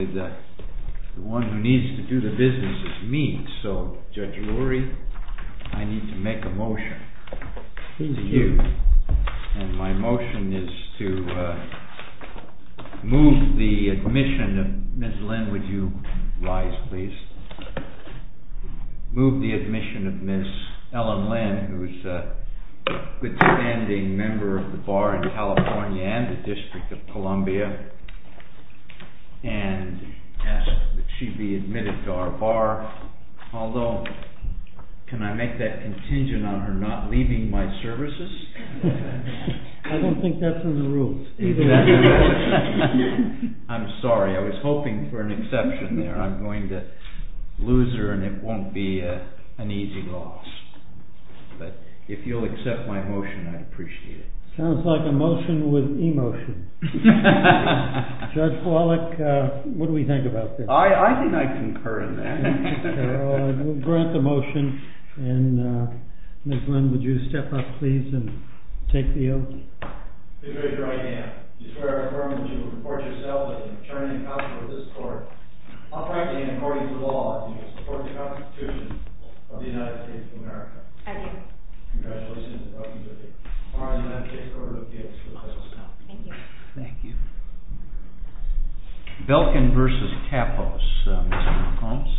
The one who needs to do the business is me, so Judge Lurie, I need to make a motion to you, and my motion is to move the admission of Ms. Lynn, would you rise please? Move the admission of Ms. Ellen Lynn, who is a good standing member of the Bar in California and the District of Columbia, and ask that she be admitted to our Bar, although can I make that contingent on her not leaving my services? I don't think that's in the rules. I'm sorry, I was hoping for an exception there. I'm going to lose her and it won't be an easy loss, but if you'll accept my motion, I'd appreciate it. Sounds like a motion with emotion. Judge Wallach, what do we think about this? I think I concur in that. We'll grant the motion, and Ms. Lynn, would you step up please and take the oath? I do. Thank you. Belkin v. Kappos.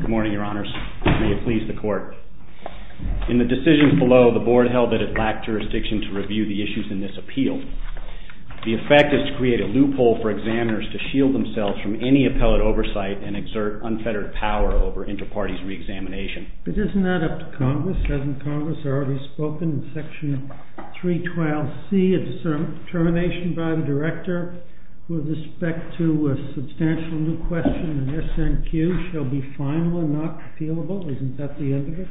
Good morning, Your Honors. May it please the Court. In the decisions below, the Board held that it lacked jurisdiction to review the issues in this appeal. The effect is to create a loophole for examiners to shield themselves from any appellate oversight and exert unfettered power over inter-parties re-examination. But isn't that up to Congress? Hasn't Congress already spoken in Section 312C of the termination by the Director with respect to a substantial new question in SNQ shall be final and not appealable? Isn't that the end of it?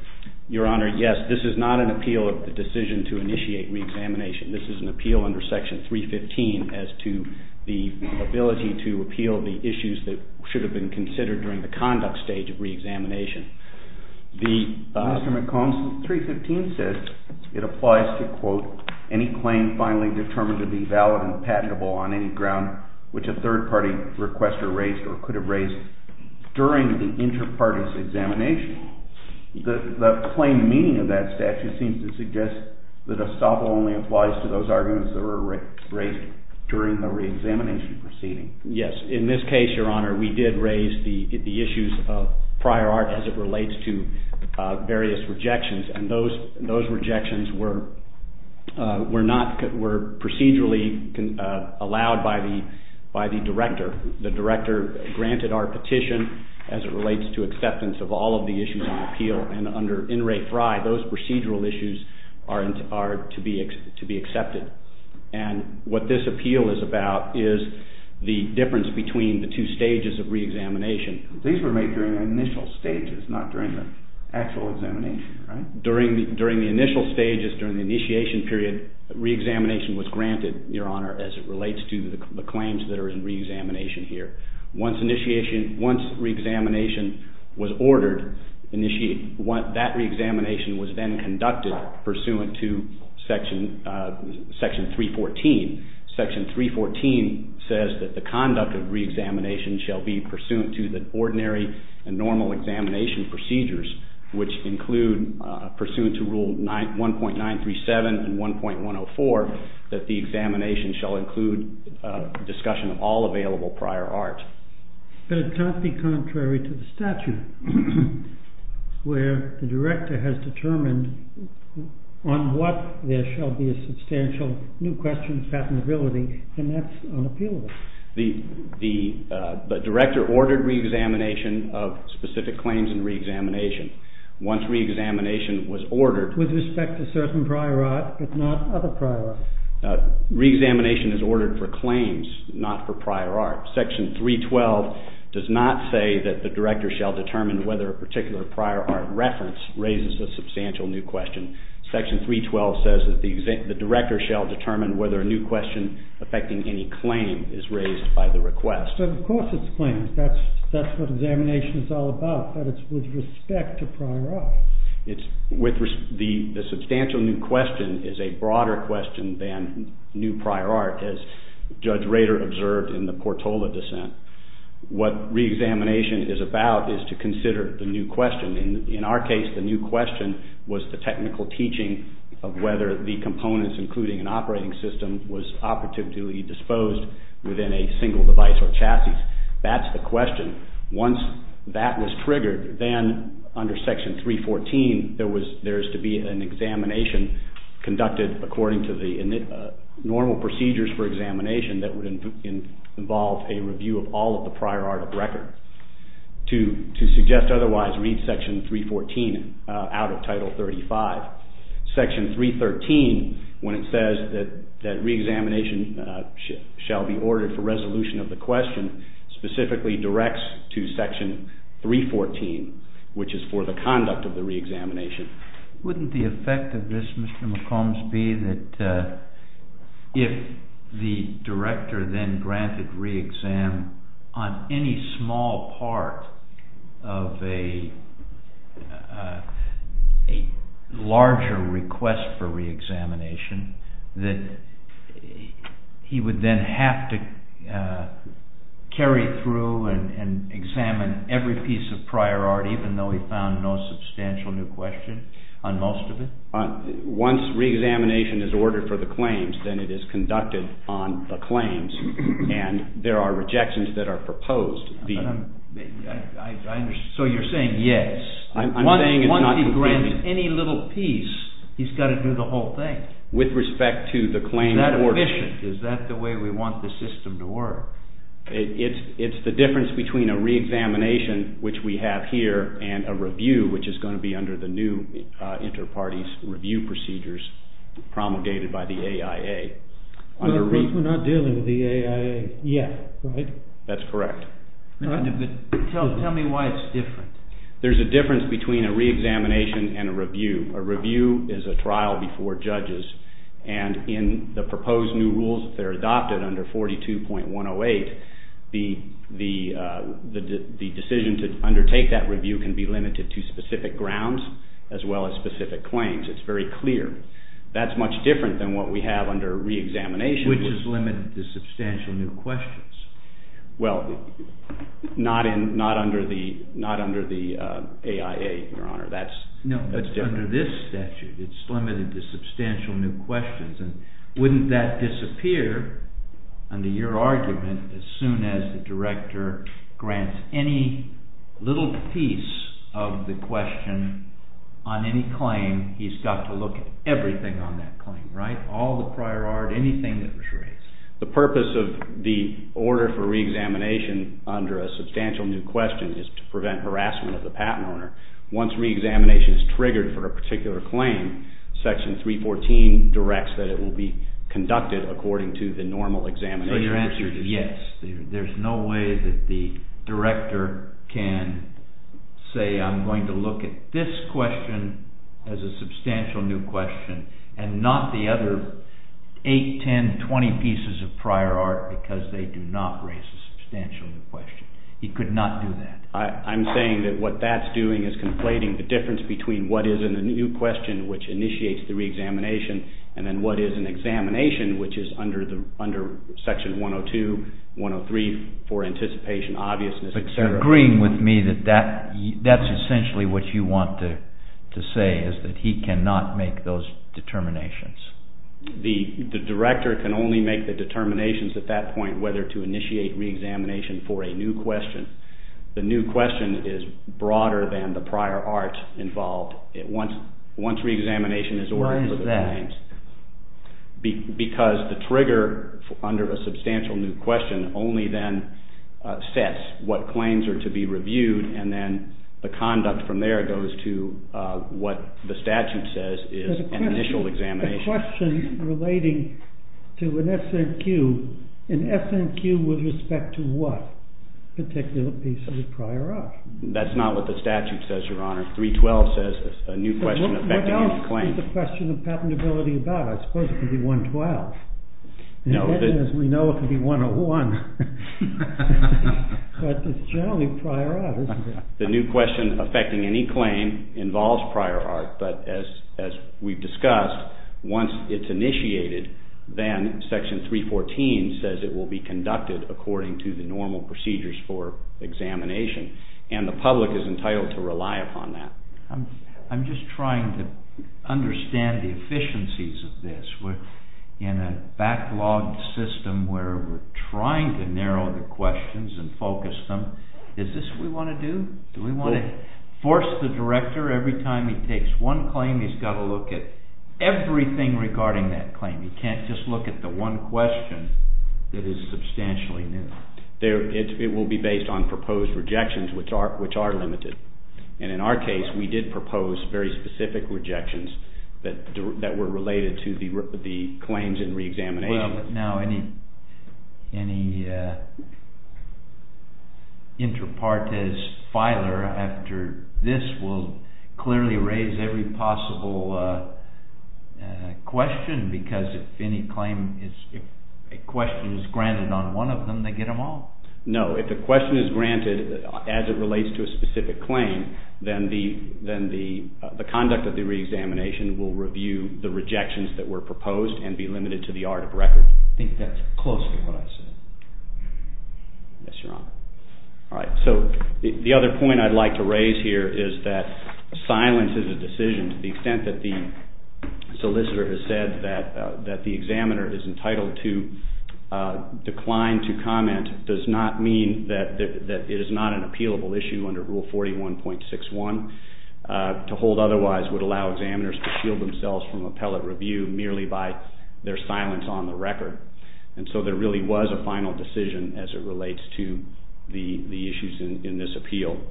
Mr. McCombs, 315 says it applies to, quote, any claim finally determined to be valid and patentable on any ground which a third-party requester raised or could have raised during the inter-parties examination. The plain meaning of that statute seems to suggest that estoppel only applies to those arguments that were raised during the re-examination proceeding. Yes, in this case, Your Honor, we did raise the issues of prior art as it relates to various rejections. And those rejections were procedurally allowed by the Director. The Director granted our petition as it relates to acceptance of all of the issues on appeal. And under N. Ray Fry, those procedural issues are to be accepted. And what this appeal is about is the difference between the two stages of re-examination. These were made during the initial stages, not during the actual examination, right? During the initial stages, during the initiation period, re-examination was granted, Your Honor, as it relates to the claims that are in re-examination here. Once re-examination was ordered, that re-examination was then conducted pursuant to Section 314. Section 314 says that the conduct of re-examination shall be pursuant to the ordinary and normal examination procedures, which include pursuant to Rule 1.937 and 1.104, that the examination shall include discussion of all available prior art. But it can't be contrary to the statute, where the Director has determined on what there shall be a substantial new question of patentability, and that's unappealable. The Director ordered re-examination of specific claims in re-examination. Once re-examination was ordered... With respect to certain prior art, but not other prior art. Re-examination is ordered for claims, not for prior art. Section 312 does not say that the Director shall determine whether a particular prior art reference raises a substantial new question. Section 312 says that the Director shall determine whether a new question affecting any claim is raised by the request. But of course it's claims. That's what examination is all about. But it's with respect to prior art. The substantial new question is a broader question than new prior art, as Judge Rader observed in the Portola dissent. What re-examination is about is to consider the new question. In our case, the new question was the technical teaching of whether the components, including an operating system, was operatively disposed within a single device or chassis. That's the question. Once that was triggered, then under Section 314, there is to be an examination conducted according to the normal procedures for examination that would involve a review of all of the prior art of record. To suggest otherwise, read Section 314 out of Title 35. Section 313, when it says that re-examination shall be ordered for resolution of the question, specifically directs to Section 314, which is for the conduct of the re-examination. Wouldn't the effect of this, Mr. McCombs, be that if the director then granted re-exam on any small part of a larger request for re-examination, that he would then have to carry through and examine every piece of prior art, even though he found no substantial new question on most of it? Once re-examination is ordered for the claims, then it is conducted on the claims, and there are rejections that are proposed. So you're saying, yes. I'm saying it's not convenient. Once he grants any little piece, he's got to do the whole thing. With respect to the claim order. Is that the way we want the system to work? It's the difference between a re-examination, which we have here, and a review, which is going to be under the new inter-parties review procedures promulgated by the AIA. But we're not dealing with the AIA yet, right? That's correct. Tell me why it's different. There's a difference between a re-examination and a review. A review is a trial before judges, and in the proposed new rules, if they're adopted under 42.108, the decision to undertake that review can be limited to specific grounds, as well as specific claims. It's very clear. That's much different than what we have under re-examination. Which is limited to substantial new questions. Well, not under the AIA, Your Honor. No, but under this statute, it's limited to substantial new questions. Wouldn't that disappear, under your argument, as soon as the director grants any little piece of the question on any claim, he's got to look at everything on that claim, right? All the prior art, anything that was raised. The purpose of the order for re-examination under a substantial new question is to prevent harassment of the patent owner. Once re-examination is triggered for a particular claim, section 314 directs that it will be conducted according to the normal examination. So your answer is yes. There's no way that the director can say, I'm going to look at this question as a substantial new question, and not the other 8, 10, 20 pieces of prior art, because they do not raise a substantial new question. He could not do that. I'm saying that what that's doing is conflating the difference between what is a new question, which initiates the re-examination, and then what is an examination, which is under section 102, 103, for anticipation, obviousness, etc. But you're agreeing with me that that's essentially what you want to say, is that he cannot make those determinations. The director can only make the determinations at that point, whether to initiate re-examination for a new question. The new question is broader than the prior art involved once re-examination is ordered for the claims. Why is that? Because the trigger under a substantial new question only then sets what claims are to be reviewed, and then the conduct from there goes to what the statute says is an initial examination. The question relating to an SNQ, an SNQ with respect to what particular piece of prior art? That's not what the statute says, Your Honor. 312 says a new question affecting any claim. What else is the question of patentability about? I suppose it could be 112. As we know, it could be 101. But it's generally prior art, isn't it? The new question affecting any claim involves prior art, but as we've discussed, once it's initiated, then Section 314 says it will be conducted according to the normal procedures for examination, and the public is entitled to rely upon that. I'm just trying to understand the efficiencies of this. We're in a backlogged system where we're trying to narrow the questions and focus them. Is this what we want to do? Do we want to force the director every time he takes one claim, he's got to look at everything regarding that claim. He can't just look at the one question that is substantially new. It will be based on proposed rejections, which are limited. In our case, we did propose very specific rejections that were related to the claims in reexamination. Any inter partes filer after this will clearly raise every possible question, because if a question is granted on one of them, they get them all. No, if a question is granted as it relates to a specific claim, then the conduct of the reexamination will review the rejections that were proposed and be limited to the art of record. I think that's close to what I said. Yes, Your Honor. The other point I'd like to raise here is that silence is a decision. To the extent that the solicitor has said that the examiner is entitled to decline to comment does not mean that it is not an appealable issue under Rule 41.61. To hold otherwise would allow examiners to shield themselves from appellate review merely by their silence on the record. And so there really was a final decision as it relates to the issues in this appeal.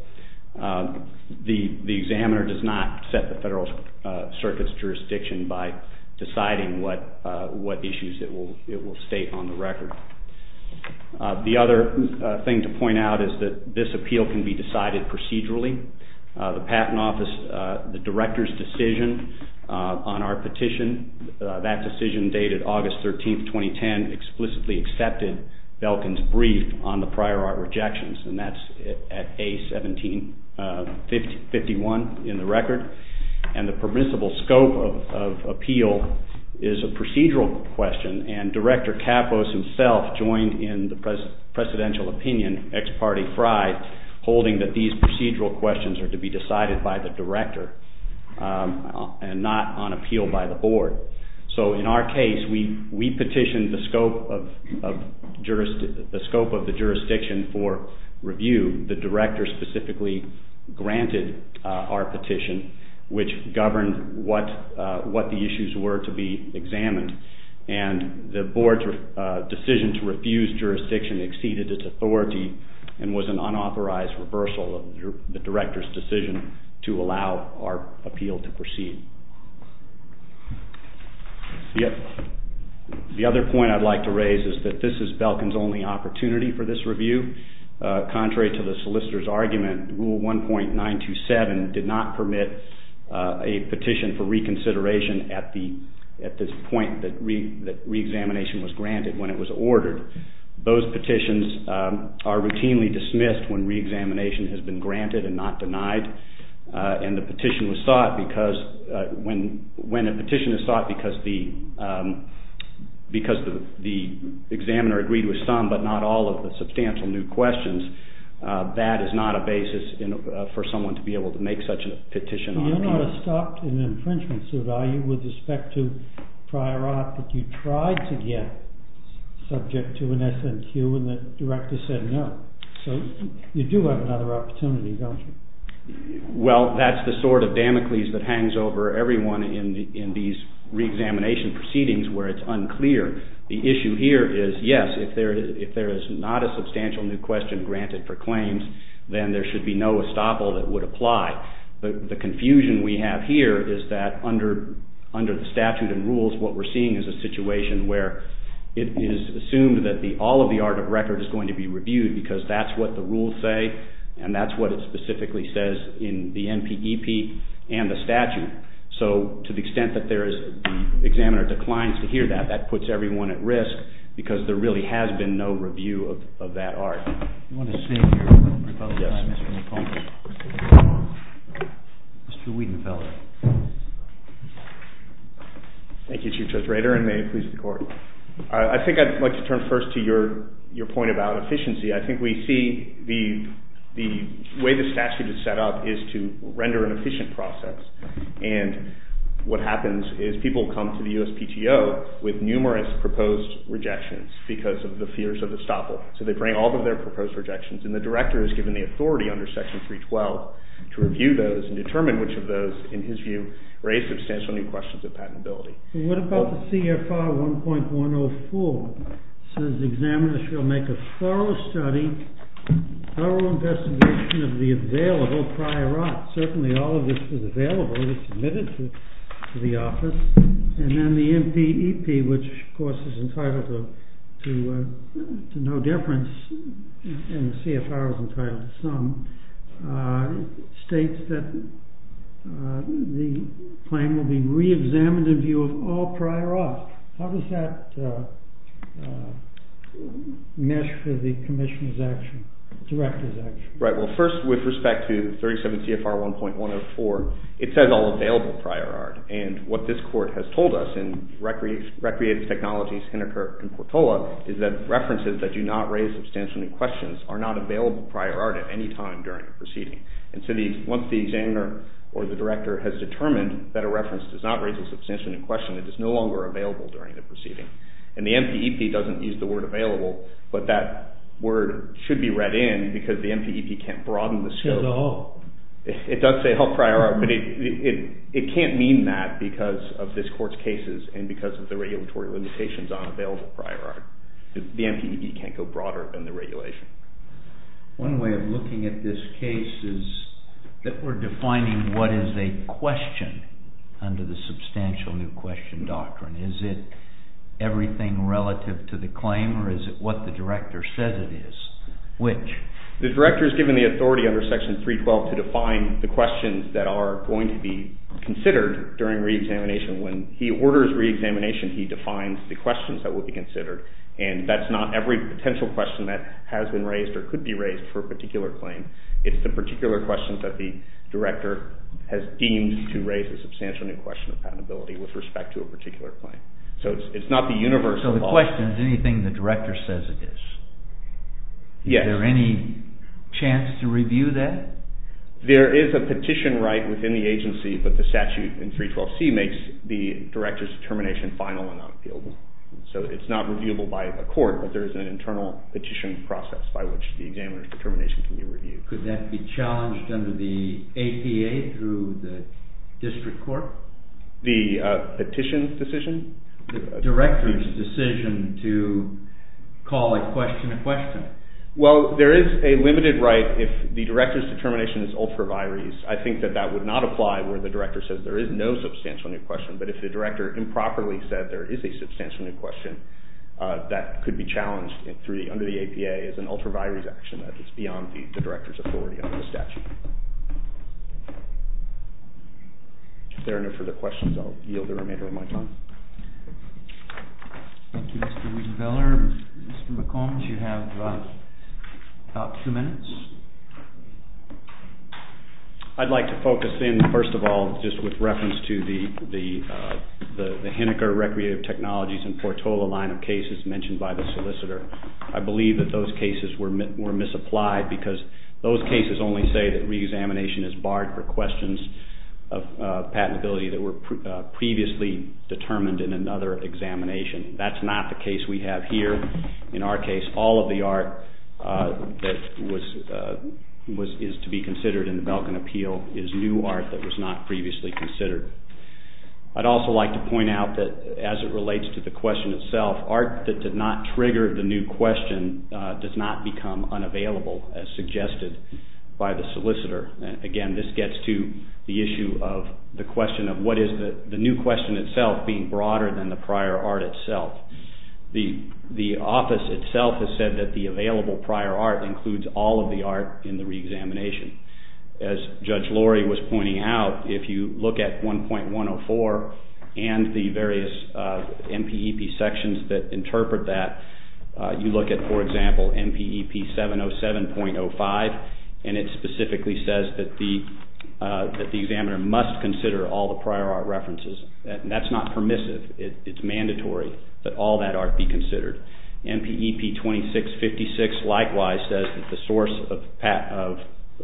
The examiner does not set the Federal Circuit's jurisdiction by deciding what issues it will state on the record. The other thing to point out is that this appeal can be decided procedurally. The Patent Office, the Director's decision on our petition, that decision dated August 13, 2010 explicitly accepted Belkin's brief on the prior art rejections. And that's at A-17-51 in the record. And the permissible scope of appeal is a procedural question. And Director Kapos himself joined in the presidential opinion, ex parte fri, holding that these procedural questions are to be decided by the Director and not on appeal by the Board. So in our case we petitioned the scope of the jurisdiction for review. The Director specifically granted our petition, which governed what the issues were to be examined. And the Board's decision to refuse jurisdiction exceeded its authority and was an unauthorized reversal of the Director's decision to allow our appeal to proceed. The other point I'd like to raise is that this is Belkin's only opportunity for this review. Contrary to the solicitor's argument, Rule 1.927 did not permit a petition for reconsideration at this point that reexamination was granted when it was ordered. Those petitions are routinely dismissed when reexamination has been granted and not denied. And the petition was sought because when a petition is sought because the examiner agreed with some but not all of the substantial new questions, that is not a basis for someone to be able to make such a petition. But you're not stopped in an infringement suit, are you, with respect to prior art that you tried to get subject to an SNQ and the Director said no? So you do have another opportunity, don't you? Well, that's the sort of Damocles that hangs over everyone in these reexamination proceedings where it's unclear. The issue here is, yes, if there is not a substantial new question granted for claims, then there should be no estoppel that would apply. The confusion we have here is that under the statute and rules, what we're seeing is a situation where it is assumed that all of the art of record is going to be reviewed because that's what the rules say and that's what it specifically says in the NPEP and the statute. So to the extent that the examiner declines to hear that, that puts everyone at risk because there really has been no review of that art. We want to save your time, Mr. McConville. Mr. Wiedenfeld. Thank you, Chief Justice Rader, and may it please the Court. I think I'd like to turn first to your point about efficiency. I think we see the way the statute is set up is to render an efficient process. And what happens is people come to the USPTO with numerous proposed rejections because of the fears of estoppel. So they bring all of their proposed rejections, and the director is given the authority under Section 312 to review those and determine which of those, in his view, raise substantial new questions of patentability. What about the CFR 1.104? It says the examiner shall make a thorough study, thorough investigation of the available prior art. The reference in the CFR, as entitled to some, states that the claim will be reexamined in view of all prior art. How does that mesh with the commissioner's action, director's action? Right. Well, first, with respect to 37 CFR 1.104, it says all available prior art. And what this Court has told us in Recreative Technologies, Henneker, and Portola is that references that do not raise substantial new questions are not available prior art at any time during the proceeding. And so once the examiner or the director has determined that a reference does not raise a substantial new question, it is no longer available during the proceeding. And the MPEP doesn't use the word available, but that word should be read in because the MPEP can't broaden the scope. It does say all prior art, but it can't mean that because of this Court's cases and because of the regulatory limitations on available prior art. The MPEP can't go broader than the regulation. One way of looking at this case is that we're defining what is a question under the substantial new question doctrine. Is it everything relative to the claim, or is it what the director says it is? Which? The director is given the authority under Section 312 to define the questions that are going to be considered during reexamination. When he orders reexamination, he defines the questions that will be considered. And that's not every potential question that has been raised or could be raised for a particular claim. It's the particular questions that the director has deemed to raise a substantial new question of patentability with respect to a particular claim. So it's not the universal law. So the question is anything the director says it is? Yes. Is there any chance to review that? There is a petition right within the agency, but the statute in 312C makes the director's determination final and unappealable. So it's not reviewable by a court, but there is an internal petition process by which the examiner's determination can be reviewed. Could that be challenged under the APA through the district court? The petition decision? The director's decision to call a question a question. Well, there is a limited right if the director's determination is ultra vires. I think that that would not apply where the director says there is no substantial new question. But if the director improperly said there is a substantial new question, that could be challenged under the APA as an ultra vires action. That's beyond the director's authority under the statute. If there are no further questions, I'll yield the remainder of my time. Thank you, Mr. Wiesenthaler. Mr. McCombs, you have about two minutes. I'd like to focus in, first of all, just with reference to the Henniker Recreative Technologies and Portola line of cases mentioned by the solicitor. I believe that those cases were misapplied because those cases only say that reexamination is barred for questions of patentability that were previously determined in another examination. That's not the case we have here. In our case, all of the art that is to be considered in the Belkin Appeal is new art that was not previously considered. I'd also like to point out that as it relates to the question itself, art that did not trigger the new question does not become unavailable as suggested by the solicitor. Again, this gets to the issue of the question of what is the new question itself being broader than the prior art itself. The office itself has said that the available prior art includes all of the art in the reexamination. As Judge Lori was pointing out, if you look at 1.104 and the various MPEP sections that interpret that, you look at, for example, MPEP 707.05, and it specifically says that the examiner must consider all the prior art references. That's not permissive. It's mandatory that all that art be considered. MPEP 2656 likewise says that the source of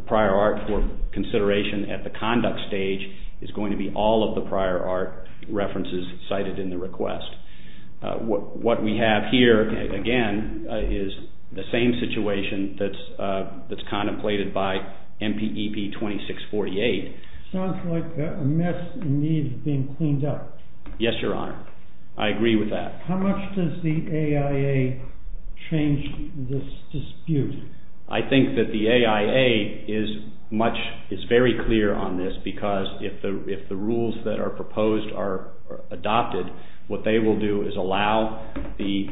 prior art for consideration at the conduct stage is going to be all of the prior art references cited in the request. What we have here, again, is the same situation that's contemplated by MPEP 2648. It sounds like a mess and needs being cleaned up. Yes, Your Honor. I agree with that. How much does the AIA change this dispute? I think that the AIA is very clear on this because if the rules that are proposed are adopted, what they will do is allow the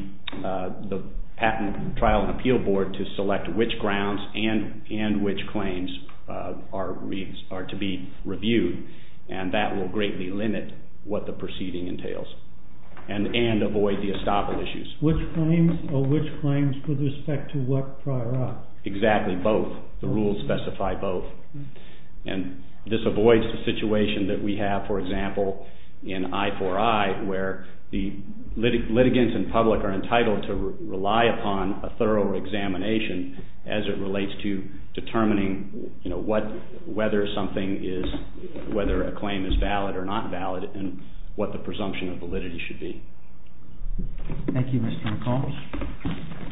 Patent Trial and Appeal Board to select which grounds and which claims are to be reviewed, and that will greatly limit what the proceeding entails and avoid the estoppel issues. Which claims or which claims with respect to what prior art? Exactly, both. The rules specify both. And this avoids the situation that we have, for example, in I-4-I where the litigants and public are entitled to rely upon a thorough examination as it relates to determining whether a claim is valid or not valid and what the presumption of validity should be. Thank you, Mr. McCall.